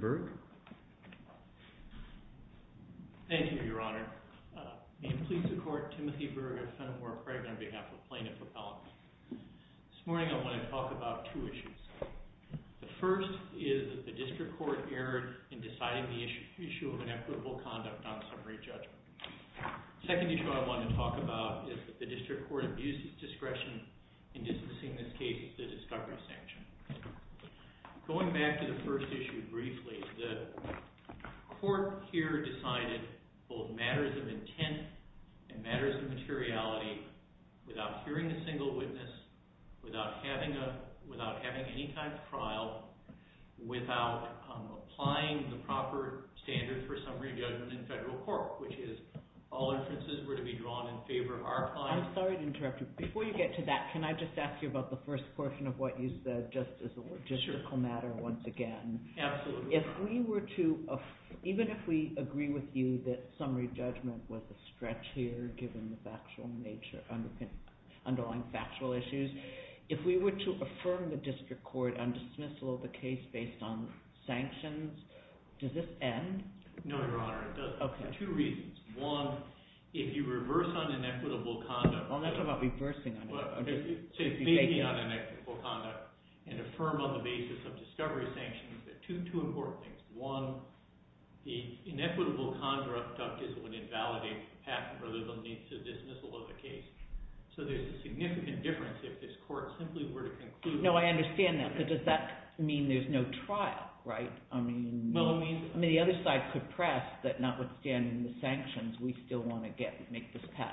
CARON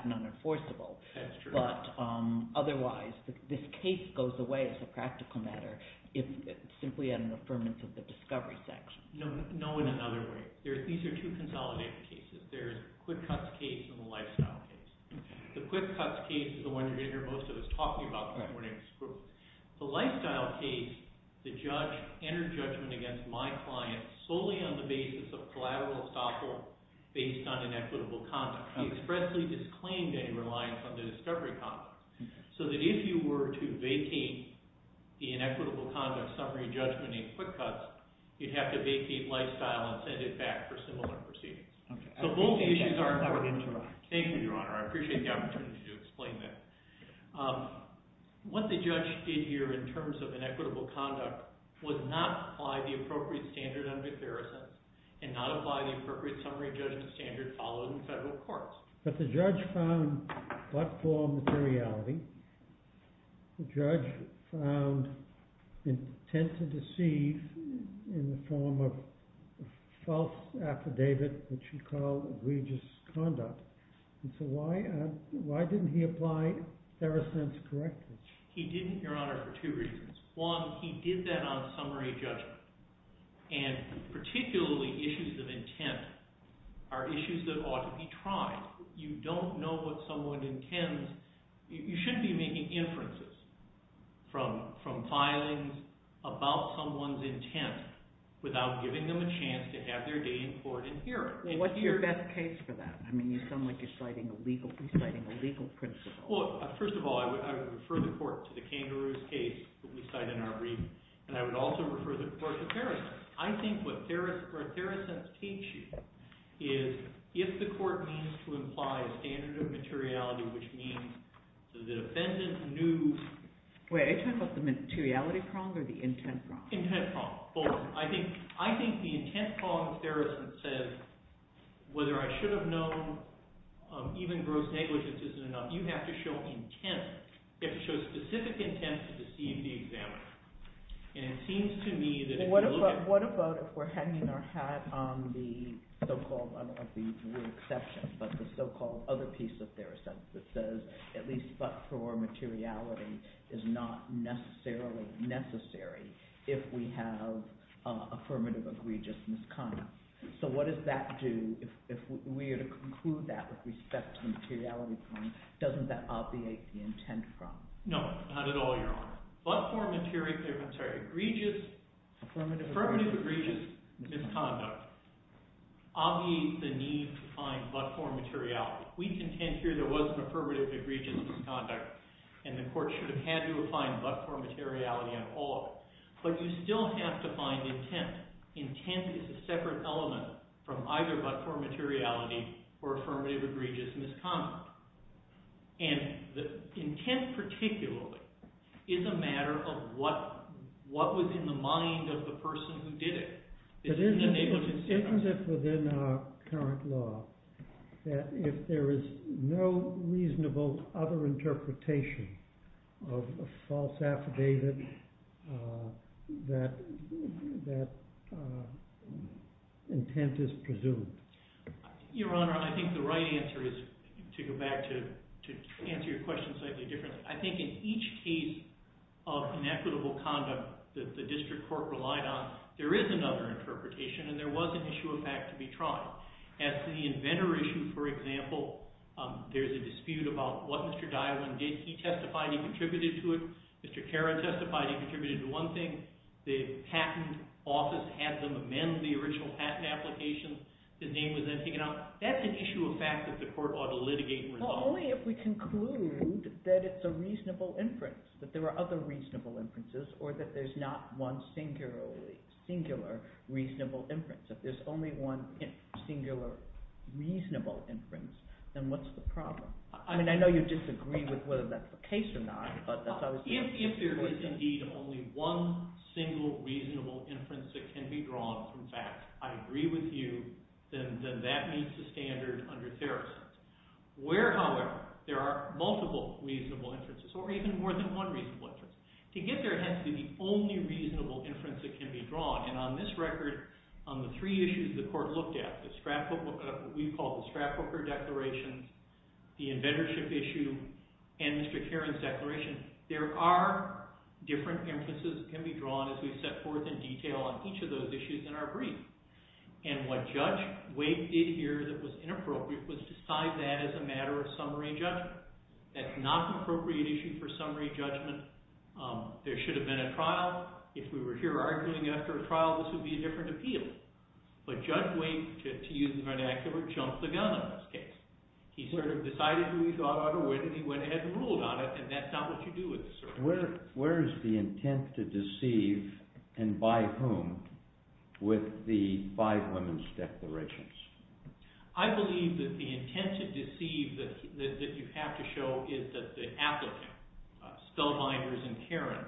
v. QUICKUTZ, INC. CARON v. QUICKUTZ, INC. CARON v. QUICKUTZ, INC. CARON v. QUICKUTZ, INC. CARON v. QUICKUTZ, INC. CARON v. QUICKUTZ, INC. CARON v. QUICKUTZ, INC. CARON v. QUICKUTZ, INC. Judge found intent to deceive in the form of a false affidavit which he called egregious conduct. And so why didn't he apply Theracent's correctness? He didn't, Your Honor, for two reasons. One, he did that on summary judgment. And particularly, issues of intent are issues that ought to be tried. You don't know what someone intends. You shouldn't be making inferences from filings about someone's intent without giving them a chance to have their day in court and hear it. What's your best case for that? I mean, you sound like you're citing a legal principle. First of all, I would refer the court to the kangaroos case that we cite in our brief. And I would also refer the court to Theracent. I think what Theracent's teach you is if the court means to imply a standard of materiality which means the defendant knew. Wait, are you talking about the materiality prong or the intent prong? Intent prong, both. I think the intent prong Theracent says, whether I should have known even gross negligence isn't enough. You have to show intent. You have to show specific intent to deceive the examiner. And it seems to me that if you look at it. What about if we're hanging our hat on the so-called, I don't like the word exception, but the so-called other piece of Theracent that says, at least but for materiality is not necessarily necessary if we have affirmative egregious misconduct. So what does that do if we are to conclude that with respect to the materiality prong? Doesn't that obviate the intent prong? No, not at all, Your Honor. But for materiality, I'm sorry, egregious, affirmative egregious misconduct obviates the need to find but for materiality. We contend here there was an affirmative egregious misconduct. And the court should have had to find but for materiality on all of it. But you still have to find intent. Intent is a separate element from either but for materiality or affirmative egregious misconduct. And the intent, particularly, is a matter of what was in the mind of the person who did it. It's in the negligence. Is it within our current law that if there is no reasonable other interpretation of a false affidavit, that intent is presumed? Your Honor, I think the right answer is to go back to answer your question slightly differently. I think in each case of inequitable conduct that the district court relied on, there is another interpretation. And there was an issue of fact to be tried. As to the inventor issue, for example, there's a dispute about what Mr. Dilan did. He testified he contributed to it. Mr. Karan testified he contributed to one thing. The patent office had them amend the original patent application. His name was then taken out. That's an issue of fact that the court ought to litigate and resolve. Well, only if we conclude that it's a reasonable inference, that there are other reasonable inferences, or that there's not one singular reasonable inference. If there's only one singular reasonable inference, then what's the problem? I mean, I know you disagree with whether that's the case or not, but that's obviously a question. If there is indeed only one single reasonable inference that can be drawn from fact, I agree with you, then that meets the standard under Theracent. Where, however, there are multiple reasonable inferences, or even more than one reasonable inference, to get there has to be the only reasonable inference that can be drawn. And on this record, on the three issues the court looked at, the Stratfork, what we call the Stratforker Declaration, the Inventorship Issue, and Mr. Karan's Declaration, there are different inferences that can be drawn as we set forth in detail on each of those issues in our brief. And what Judge Wade did here that was inappropriate was decide that as a matter of summary judgment. That's not an appropriate issue for summary judgment. There should have been a trial. If we were here arguing after a trial, this would be a different appeal. But Judge Wade, to use the vernacular, jumped the gun on this case. He sort of decided who he thought ought to win, and he went ahead and ruled on it. And that's not what you do with a search warrant. Where is the intent to deceive, and by whom, with the five women's declarations? I believe that the intent to deceive, that you have to show, is that the applicant, Spellbinders and Karan,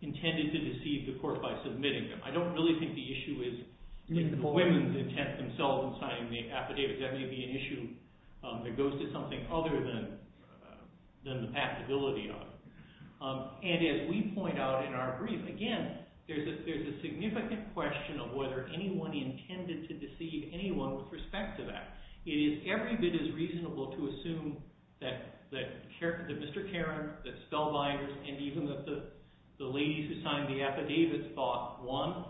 intended to deceive the court by submitting them. I don't really think the issue is the women's intent themselves in signing the affidavits. That may be an issue that goes to something other than the passability of it. And as we point out in our brief, again, there's a significant question of whether anyone intended to deceive anyone with respect to that. It is every bit as reasonable to assume that Mr. Karan, that Spellbinders, and even that the ladies who signed the affidavits thought, one,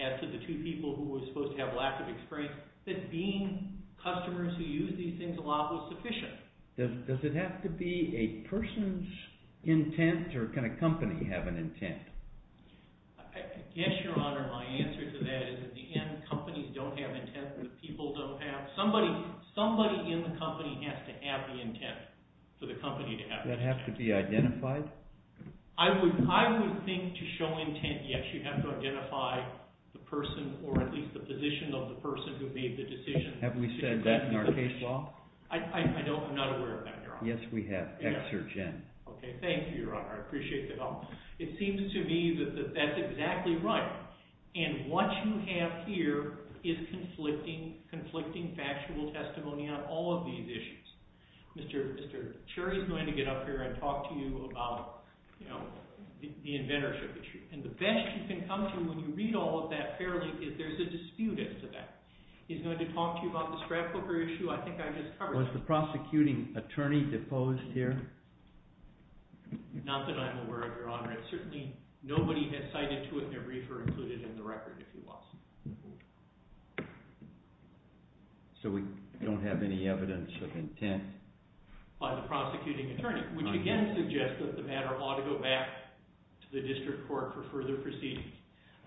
as to the two people who were supposed to have lack of experience, that being customers who use these things a lot was sufficient. Does it have to be a person's intent, or can a company have an intent? I guess, Your Honor, my answer to that is at the end, companies don't have intent, the people don't have. Somebody in the company has to have the intent for the company to have the intent. Does that have to be identified? I would think to show intent, yes, you have to identify the person, or at least the position of the person who made the decision. Have we said that in our case law? I'm not aware of that, Your Honor. Yes, we have. Exergen. OK, thank you, Your Honor. I appreciate the help. It seems to me that that's exactly right. And what you have here is conflicting factual testimony on all of these issues. Mr. Cherry is going to get up here and talk to you about the inventorship issue. And the best you can come to when you read all of that fairly is there's a dispute as to that. He's going to talk to you about the scrapbooker issue. I think I just covered that. Was the prosecuting attorney deposed here? Not that I'm aware of, Your Honor. Certainly, nobody has cited to it in their brief or included in the record, if you will. So we don't have any evidence of intent by the prosecuting attorney, which again suggests that the matter ought to go back to the district court for further proceedings.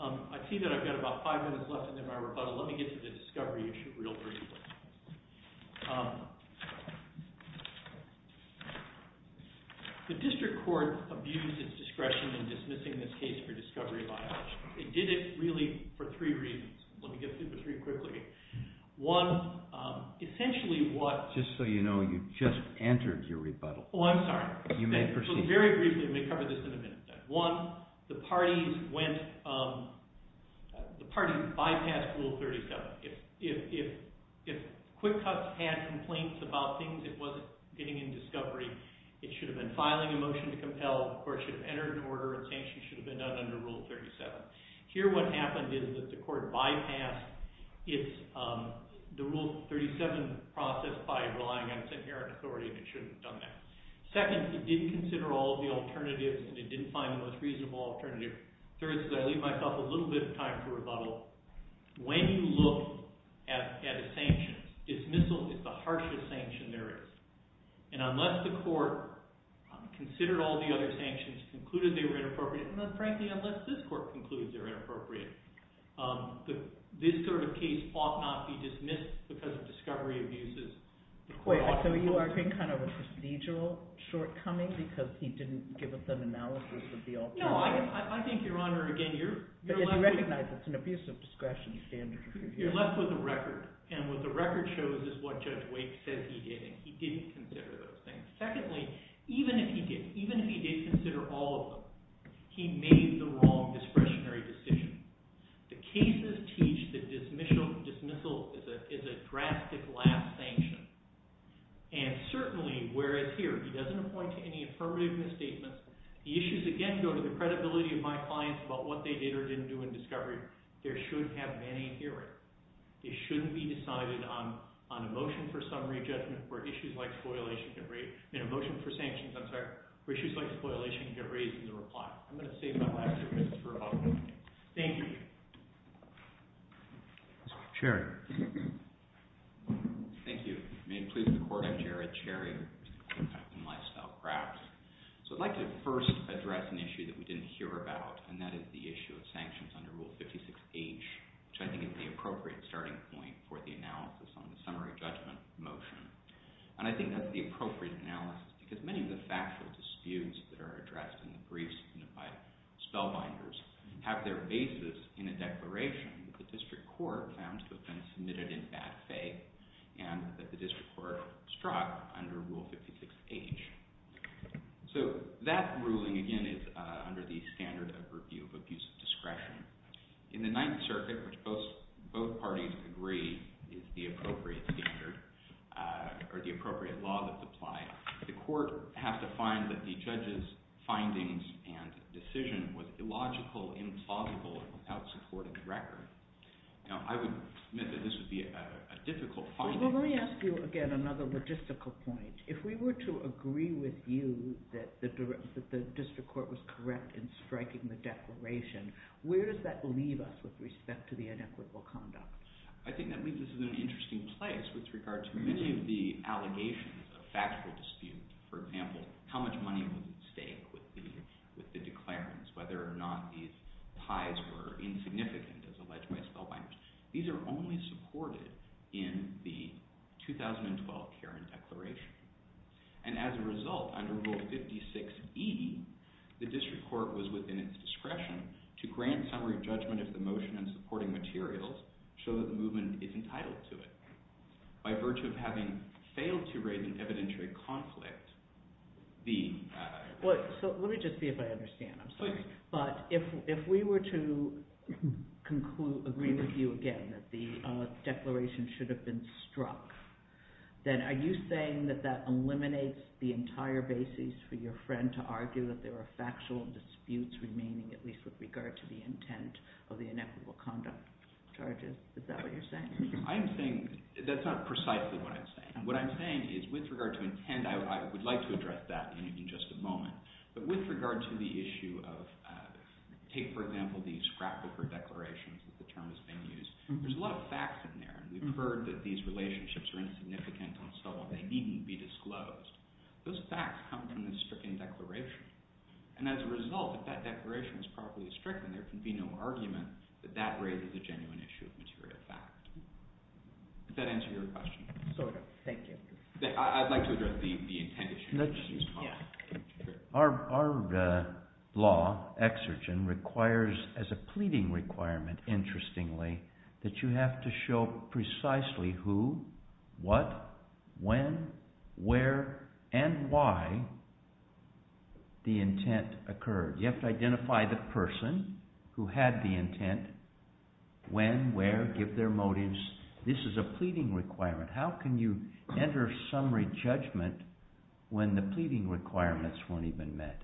I see that I've got about five minutes left in my rebuttal. Let me get to the discovery issue real briefly. So the district court abused its discretion in dismissing this case for discovery of ideology. It did it really for three reasons. Let me get through the three quickly. One, essentially what- Just so you know, you just entered your rebuttal. Oh, I'm sorry. You may proceed. Very briefly, and we'll cover this in a minute. One, the parties bypassed Rule 37. If QuickCuts had complaints about things it wasn't getting in discovery, it should have been filing a motion to compel, or it should have entered an order, and sanctions should have been done under Rule 37. Here, what happened is that the court bypassed the Rule 37 process by relying on its inherent authority, and it shouldn't have done that. Second, it didn't consider all the alternatives, and it didn't find the most reasonable alternative. Third, as I leave myself a little bit of time for rebuttal, when you look at a sanction, dismissal is the harshest sanction there is. And unless the court considered all the other sanctions, concluded they were inappropriate, and then frankly, unless this court concludes they're inappropriate, this sort of case ought not be dismissed because of discovery abuses. Wait, so you are saying kind of a procedural shortcoming, because he didn't give us an analysis of the alternative? No, I think, Your Honor, again, you're left with- I recognize it's an abuse of discretion standard. You're left with a record, and what the record shows is what Judge Wake says he did, and he didn't consider those things. Secondly, even if he did, even if he did consider all of them, he made the wrong discretionary decision. The cases teach that dismissal is a drastic last sanction. And certainly, whereas here, he doesn't appoint to any affirmative misstatements, the issues, again, go to the credibility of my clients about what they did or didn't do in discovery, there should have been a hearing. It shouldn't be decided on a motion for summary judgment where issues like spoilation get raised, and a motion for sanctions, I'm sorry, where issues like spoilation get raised in the reply. I'm going to save my last two minutes for a public hearing. Thank you. Sherry. Thank you. May it please the court, I'm Jared Sherry, with the Department of Lifestyle and Crafts. So I'd like to first address an issue that we didn't hear about, and that is the issue of sanctions under Rule 56H, which I think is the appropriate starting point for the analysis on the summary judgment motion. And I think that's the appropriate analysis, because many of the factual disputes that are addressed in the briefs by spellbinders have their basis in a declaration that the district court found to have been submitted in bad faith, and that the district court struck under Rule 56H. So that ruling, again, is under the standard of review of abuse of discretion. In the Ninth Circuit, which both parties agree is the appropriate standard, or the appropriate law that's applied, the court has to find that the judge's findings and decision was illogical, implausible, without supporting the record. Now, I would admit that this would be a difficult finding. Well, let me ask you again another logistical point. If we were to agree with you that the district court was correct in striking the declaration, where does that leave us with respect to the inequitable conduct? I think that leaves us in an interesting place with regard to many of the allegations of factual dispute. For example, how much money was at stake with the declarants, whether or not these ties were insignificant, as alleged by spellbinders. These are only supported in the 2012 Keran Declaration. And as a result, under Rule 56E, the district court was within its discretion to grant summary judgment of the motion and supporting materials so that the movement is entitled to it. By virtue of having failed to raise an evidentiary conflict, the- So let me just see if I understand. But if we were to agree with you again that the declaration should have been struck, then are you saying that that eliminates the entire basis for your friend to argue that there are factual disputes remaining, at least with regard to the intent of the inequitable conduct charges? Is that what you're saying? I'm saying that's not precisely what I'm saying. What I'm saying is, with regard to intent, I would like to address that in just a moment. But with regard to the issue of, take, for example, the scrapbooker declarations, as the term has been used, there's a lot of facts in there. We've heard that these relationships are insignificant and so on. They needn't be disclosed. Those facts come from the stricken declaration. And as a result, if that declaration is properly stricken, there can be no argument that that raises a genuine issue of material fact. Does that answer your question? Sort of. Thank you. I'd like to address the intent issue. Yeah. Our law, exergen, requires, as a pleading requirement, interestingly, that you have to show precisely who, what, when, where, and why the intent occurred. You have to identify the person who had the intent, when, where, give their motives. This is a pleading requirement. How can you enter summary judgment when the pleading requirements weren't even met?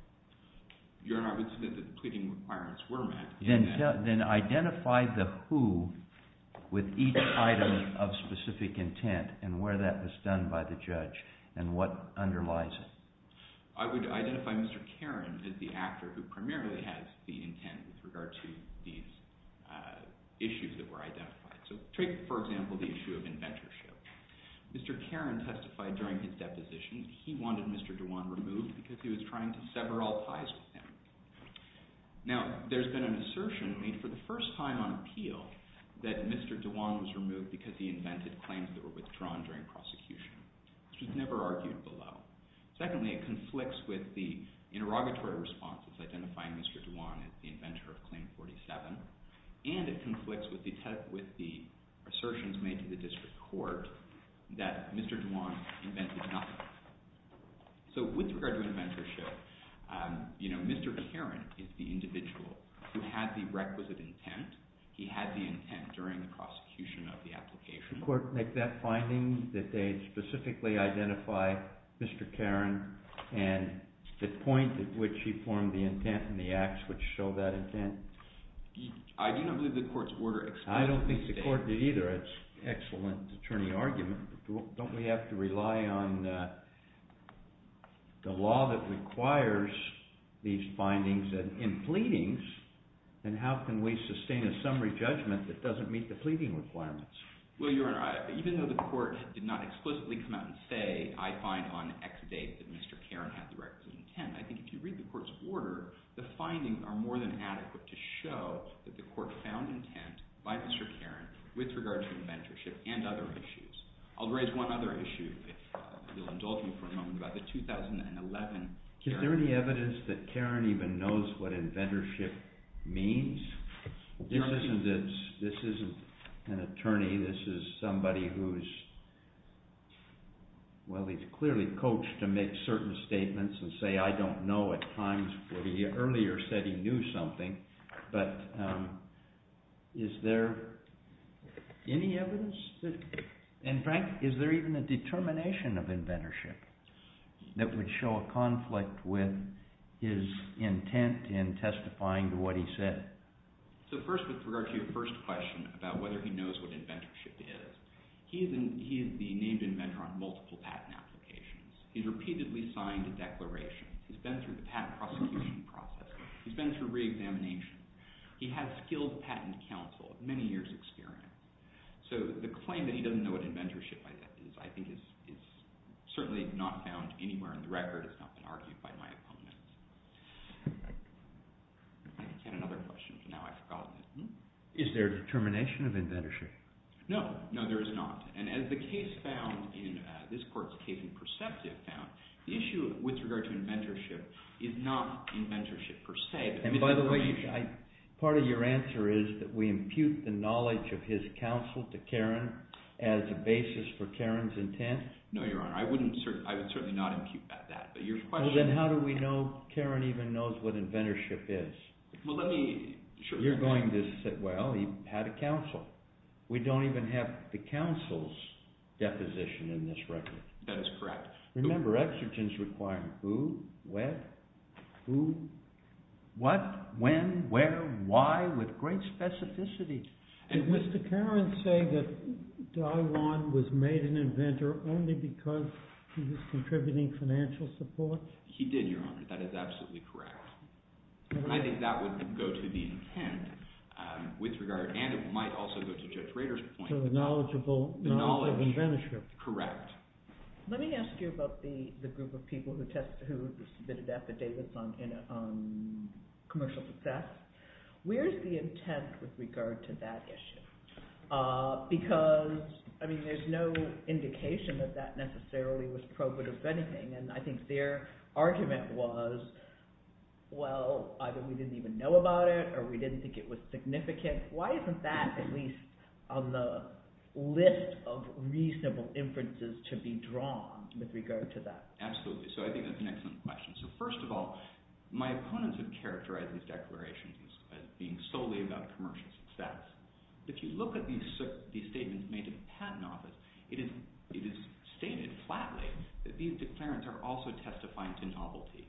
Your Honor, I would submit that the pleading requirements were met. Then identify the who with each item of specific intent and where that was done by the judge and what underlies it. I would identify Mr. Karen as the actor who primarily has the intent with regard to these issues that were identified. So take, for example, the issue of inventorship. Mr. Karen testified during his deposition he wanted Mr. Dewan removed because he was trying to sever all ties with him. Now, there's been an assertion made for the first time on appeal that Mr. Dewan was removed because he invented claims that were withdrawn during prosecution, which was never argued below. Secondly, it conflicts with the interrogatory responses identifying Mr. Dewan as the inventor of Claim 47. And it conflicts with the assertions made to the district court that Mr. Dewan invented nothing. So with regard to inventorship, Mr. Karen is the individual who had the requisite intent. He had the intent during the prosecution of the application. The court make that finding that they specifically identify Mr. Karen and the point at which he formed the intent and the acts which show that intent? I do not believe the court's order explicitly stated. I don't think the court did either. It's an excellent attorney argument. Don't we have to rely on the law that requires these findings in pleadings? And how can we sustain a summary judgment that doesn't meet the pleading requirements? Well, Your Honor, even though the court did not explicitly come out and say, I find on X date that Mr. Karen had the requisite intent, I think if you read the court's order, the findings are more than adequate to show that the court found intent by Mr. Karen with regard to inventorship and other issues. I'll raise one other issue, if we'll indulge you for a moment, about the 2011. Is there any evidence that Karen even knows what inventorship means? This isn't an attorney. This is somebody who's, well, he's clearly coached to make certain statements and say, I don't know at times what he earlier said he knew something. But is there any evidence that, in fact, is there even a determination of inventorship that would show a conflict with his intent in testifying to what he said? So first, with regard to your first question about whether he knows what inventorship is, he is the named inventor on multiple patent applications. He's repeatedly signed a declaration. He's been through the patent prosecution process. He's been through re-examination. He has skilled patent counsel, many years' experience. So the claim that he doesn't know what inventorship is, I think, is certainly not found anywhere in the record. It's not been argued by my opponents. I had another question, but now I've forgotten it. Is there determination of inventorship? No, no, there is not. And as the case found in this court's case and perceptive found, the issue with regard to inventorship is not inventorship per se. And by the way, part of your answer is that we impute the knowledge of his counsel to Karen as a basis for Karen's intent? No, Your Honor, I would certainly not impute that. But your question is? Well, then how do we know Karen even knows what inventorship is? Well, let me, sure. You're going to say, well, he had a counsel. We don't even have the counsel's deposition in this record. That is correct. Remember, exergence requirement, who, where, who, what, when, where, why, with great specificity. Did Mr. Karen say that Dai Wan was made an inventor only because he was contributing financial support? He did, Your Honor. That is absolutely correct. I think that would go to the intent with regard, and it might also go to Judge Rader's point about the knowledge, correct. Let me ask you about the group of people who submitted affidavits on commercial success. Where's the intent with regard to that issue? Because there's no indication that that necessarily was probative of anything. And I think their argument was, well, either we didn't even know about it, or we didn't think it was significant. Why isn't that, at least, on the list of reasonable inferences to be drawn with regard to that? Absolutely. So I think that's an excellent question. So first of all, my opponents have characterized these declarations as being solely about commercial success. If you look at these statements made in the Patent Office, it is stated flatly that these declarants are also testifying to novelty.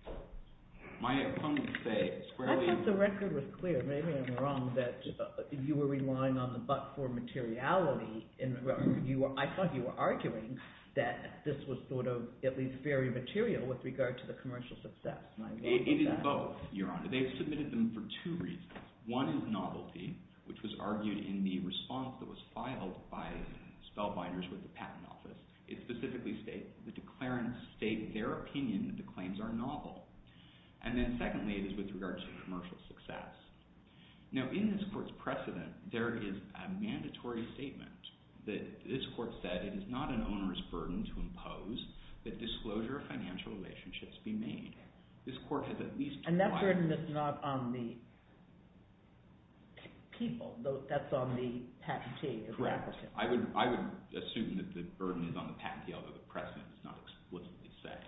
My opponents say, squarely. I thought the record was clear. Maybe I'm wrong, that you were relying on the but for materiality. I thought you were arguing that this was, at least, very material with regard to the commercial success. It is both, Your Honor. They've submitted them for two reasons. One is novelty, which was argued in the response that was filed by Spellbinders with the Patent Office. It specifically states, the declarants state their opinion that the claims are novel. And then, secondly, it is with regard to commercial success. Now, in this court's precedent, there is a mandatory statement that this court said, it is not an owner's burden to impose that disclosure of financial relationships be made. This court has, at least, tried. And that burden is not on the people. That's on the patentee, the applicant. Correct. I would assume that the burden is on the patentee, although the precedent is not explicitly set.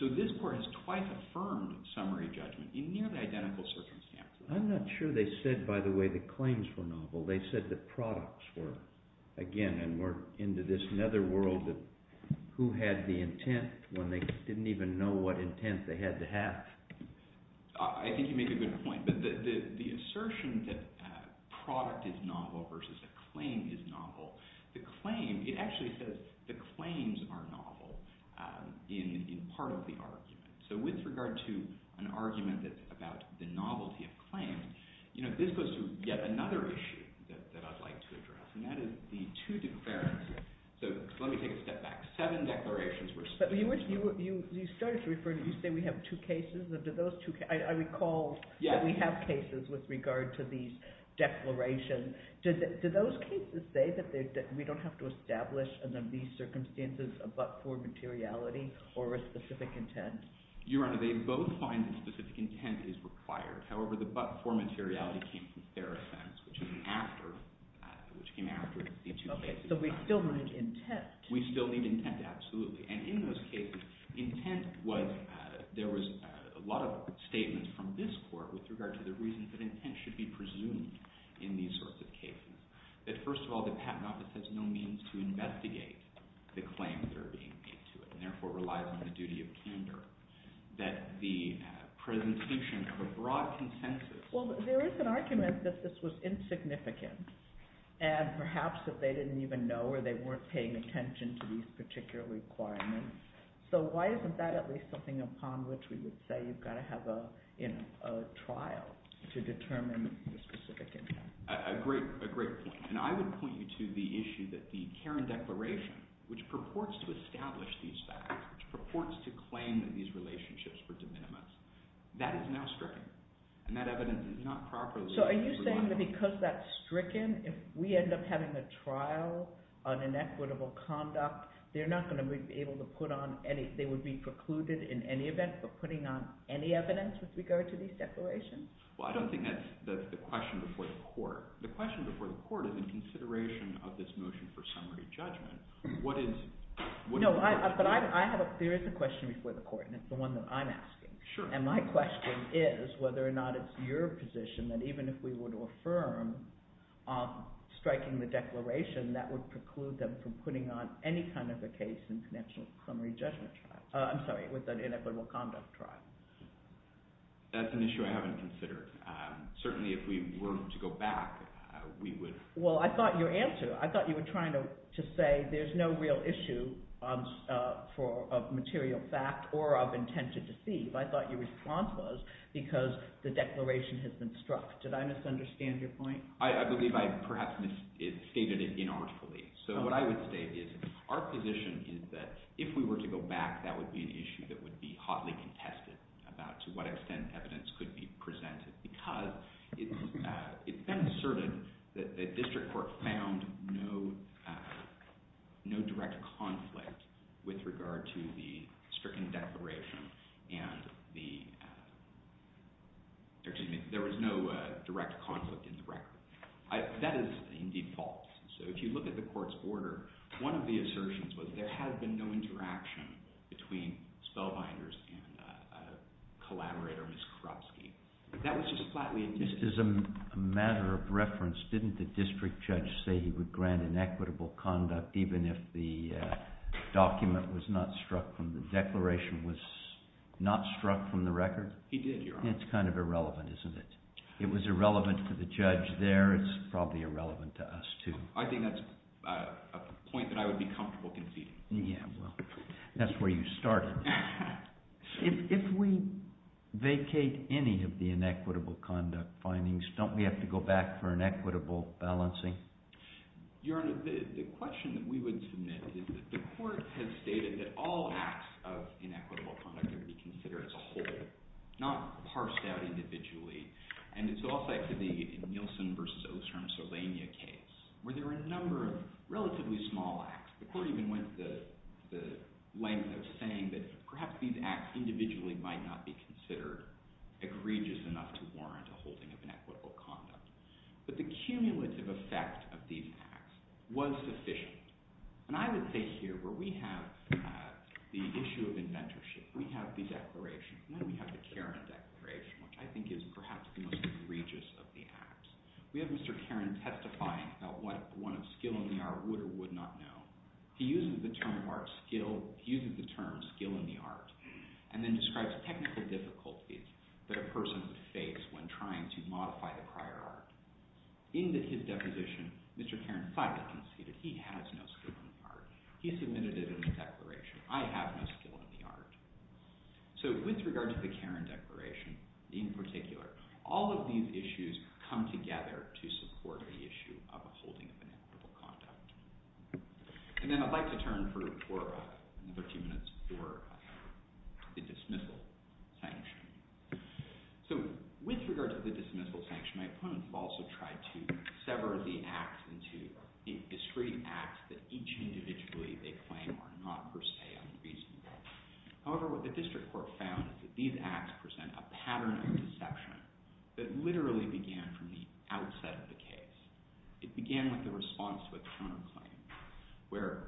So this court has twice affirmed summary judgment in nearly identical circumstances. I'm not sure they said, by the way, the claims were novel. They said the products were. Again, and we're into this netherworld of who had the intent when they didn't even know what intent they had to have. I think you make a good point. But the assertion that product is novel versus a claim is novel. The claim, it actually says the claims are novel in part of the argument. So with regard to an argument that's about the novelty of claims, this goes to yet another issue that I'd like to address. And that is the two declarations. So let me take a step back. Seven declarations were stated. You started to refer to, you say we have two cases. I recall that we have cases with regard to these declarations. Do those cases say that we don't have to establish under these circumstances a but-for materiality or a specific intent? Your Honor, they both find that specific intent is required. However, the but-for materiality came from their offense, which came after the two cases. So we still need intent. We still need intent, absolutely. And in those cases, intent was, there was a lot of statements from this court with regard to the reason that intent should be presumed in these sorts of cases. That first of all, the Patent Office has no means to investigate the claims that are being made to it, and therefore relies on the duty of candor. That the presentation of a broad consensus. Well, there is an argument that this was insignificant. And perhaps that they didn't even know or they weren't paying attention to these particular requirements. So why isn't that at least something upon which we would say you've got to have a trial to determine the specific intent? A great point. And I would point you to the issue that the Karen Declaration, which purports to establish these facts, which purports to claim that these relationships were de minimis, that is now stricken. And that evidence is not properly reliable. So are you saying that because that's stricken, if we end up having a trial on inequitable conduct, they're not going to be able to put on any, they would be precluded in any event from putting on any evidence with regard to these declarations? Well, I don't think that's the question before the court. The question before the court is in consideration of this motion for summary judgment. What is, what is the question? No, but I have a, there is a question before the court. And it's the one that I'm asking. Sure. And my question is whether or not it's your position that even if we were to affirm striking the declaration, that would preclude them from putting on any kind of a case in connection with the summary judgment trial. I'm sorry, with an inequitable conduct trial. That's an issue I haven't considered. Certainly if we were to go back, we would. Well, I thought your answer, I thought you were trying to say there's no real issue for, of material fact or of intent to deceive. I thought your response was because the declaration has been struck. Did I misunderstand your point? I believe I perhaps misstated it inartfully. So what I would state is, our position is that if we were to go back, that would be an issue that would be hotly contested about to what extent evidence could be presented. Because it's been asserted that the district court found no direct conflict with regard to the stricken declaration. And the, excuse me, there was no direct conflict in the record. That is indeed false. So if you look at the court's order, one of the assertions was there has been no interaction between Spellbinders and collaborator, Ms. Korupski. That was just flatly indicted. Just as a matter of reference, didn't the district judge say he would grant inequitable conduct even if the document was not struck from, the declaration was not struck from the record? He did, Your Honor. It's kind of irrelevant, isn't it? It was irrelevant to the judge there. It's probably irrelevant to us, too. I think that's a point that I would be comfortable conceding. Yeah, well, that's where you started. If we vacate any of the inequitable conduct findings, don't we have to go back for an equitable balancing? Your Honor, the question that we would submit is that the court has stated that all acts of inequitable conduct are to be considered as a whole, not parsed out individually. And it's also like the Nielsen versus Ostrom-Solania case, where there are a number of relatively small acts. The court even went the length of saying that perhaps these acts individually might not be considered egregious enough to warrant a holding of inequitable conduct. But the cumulative effect of these acts was sufficient. And I would say here, where we have the issue of inventorship, we have these declarations. And then we have the Karin Declaration, which I think is perhaps the most egregious of the acts. We have Mr. Karin testifying about what a skill in the art would or would not know. He uses the term skill in the art, and then describes technical difficulties that a person would face when trying to modify the prior art. In his deposition, Mr. Karin finally conceded he has no skill in the art. He submitted it in the declaration. I have no skill in the art. So with regard to the Karin Declaration in particular, all of these issues come together to support the issue of a holding of inequitable conduct. And then I'd like to turn for another two minutes for the dismissal sanction. So with regard to the dismissal sanction, my opponents have also tried to sever the acts into discrete acts that each individually they claim are not per se unreasonable. However, what the district court found is that these acts present a pattern of deception that literally began from the outset of the case. It began with the response to a counterclaim where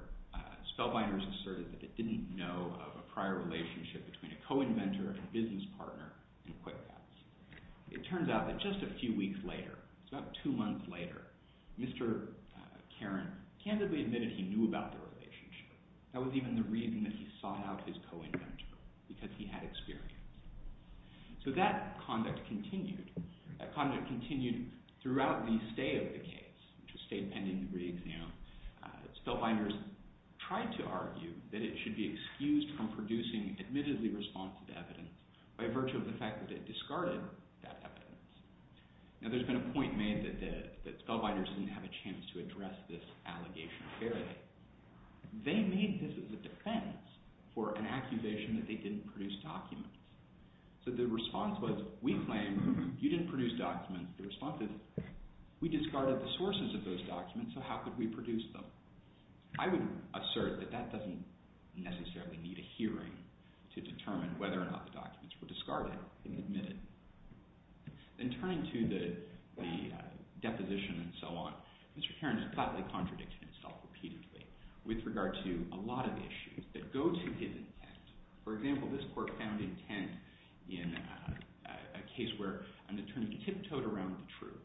Spellbinders asserted that it didn't know of a prior relationship between a co-inventor and a business partner in QuickPats. It turns out that just a few weeks later, about two months later, Mr. Karin candidly admitted he knew about the relationship. That was even the reason that he sought out his co-inventor, because he had experience. So that conduct continued. That conduct continued throughout the stay of the case, which was stayed pending re-exam. Spellbinders tried to argue that it should be excused from producing admittedly responsive evidence by virtue of the fact that it discarded that evidence. Now, there's been a point made that Spellbinders didn't have a chance to address this allegation fairly. They made this as a defense for an accusation that they didn't produce documents. So the response was, we claim you didn't produce documents. The response is, we discarded the sources of those documents, so how could we produce them? I would assert that that doesn't necessarily need a hearing to determine whether or not the documents were discarded and admitted. In turning to the deposition and so on, Mr. Karin has flatly contradicted himself repeatedly with regard to a lot of issues that go to his intent. For example, this court found intent in a case where an attorney tiptoed around the truth.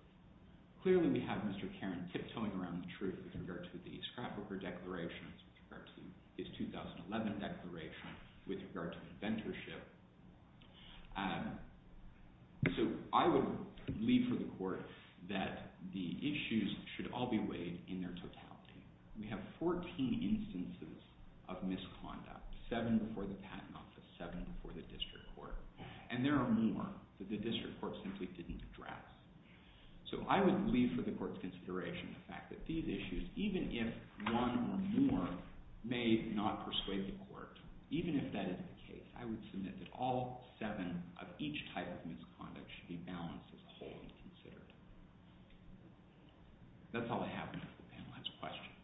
Clearly, we have Mr. Karin tiptoeing around the truth with regard to the scrapbooker declarations, with regard to his 2011 declaration, with regard to inventorship. So I would leave for the court that the issues should all be weighed in their totality. We have 14 instances of misconduct, seven before the patent office, seven before the district court. And there are more that the district court simply didn't address. So I would leave for the court's consideration the fact that these issues, even if one or more may not persuade the court, even if that is the case, I would submit that all seven of each type of misconduct should be balanced as a whole and considered. That's all I have for the panel. That's questions.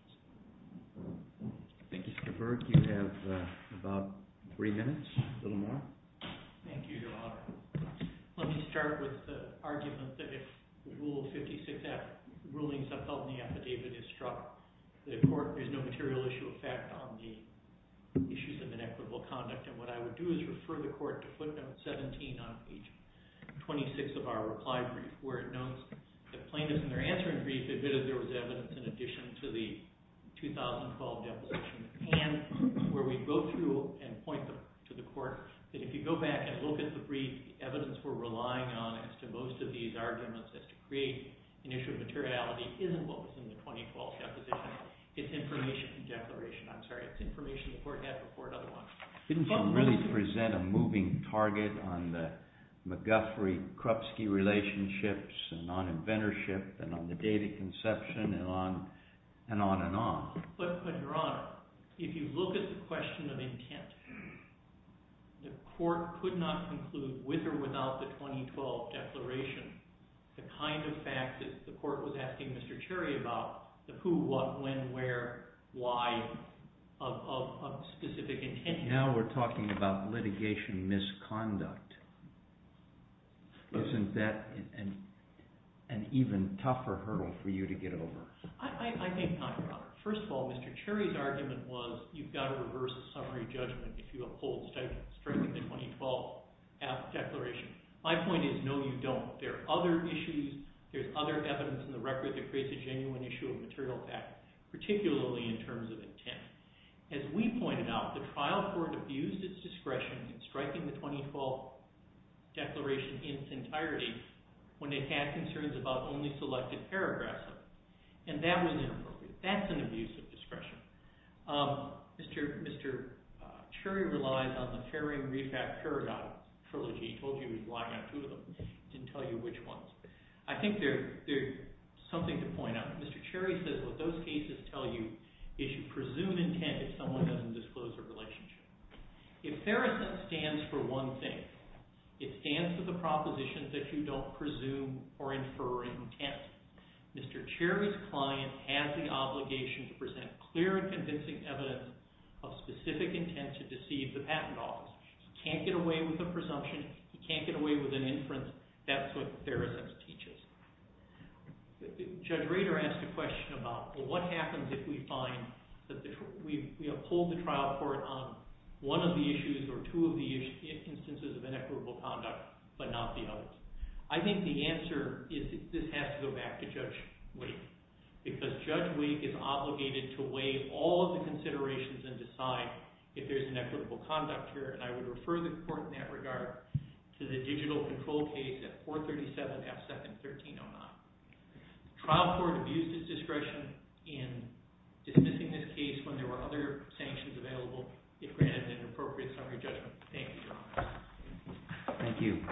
Thank you, Mr. Burke. You have about three minutes, a little more. Thank you, Your Honor. Let me start with the argument that if Rule 56F, rulings that help in the affidavit is struck, the court is no material issue of fact on the issues of inequitable conduct. And what I would do is refer the court to footnote 17 on page 26 of our reply brief, where notes that plaintiffs in their answering brief admitted there was evidence in addition to the 2012 deposition, and where we go through and point to the court that if you go back and look at the brief, evidence we're relying on as to most of these arguments as to create an issue of materiality isn't what was in the 2012 deposition. It's information in the declaration. I'm sorry, it's information the court had before another one. Didn't the court really present a moving target on the McGuffery-Krupsky relationships and on inventorship and on the data conception and on and on and on? But, Your Honor, if you look at the question of intent, the court could not conclude with or without the 2012 declaration the kind of fact that the court was asking Mr. Cherry about, the who, what, when, where, why of specific intention. Now we're talking about litigation misconduct. Isn't that an even tougher hurdle for you to get over? I think not, Your Honor. First of all, Mr. Cherry's argument was you've got to reverse the summary judgment if you uphold strictly the 2012 declaration. My point is, no, you don't. There are other issues, there's other evidence in the record that creates a genuine issue of material fact, particularly in terms of intent. As we pointed out, the trial court abused its discretion in striking the 2012 declaration in its entirety when it had concerns about only selected paragraphs of it. And that was inappropriate. That's an abuse of discretion. Mr. Cherry relies on the Ferry and Refat paradigm trilogy. He told you he was lying on two of them. He didn't tell you which ones. I think there's something to point out. Mr. Cherry says what those cases tell you is you presume intent if someone doesn't disclose their relationship. If FerriSense stands for one thing, it stands for the proposition that you don't presume or infer intent. Mr. Cherry's client has the obligation to present clear and convincing evidence of specific intent to deceive the patent office. He can't get away with a presumption. He can't get away with an inference. That's what FerriSense teaches. Judge Rader asked a question about, well, what happens if we find that we uphold the trial court on one of the issues or two of the instances of inequitable conduct, but not the others? I think the answer is this has to go back to Judge Wake. Because Judge Wake is obligated to weigh all of the considerations and decide if there's inequitable conduct here. And I would refer the court in that regard to the digital control case at 437 F. 2nd, 1309. Trial court abused its discretion in dismissing this case when there were other sanctions available, if granted an appropriate summary judgment. Thank you, Your Honor. Thank you.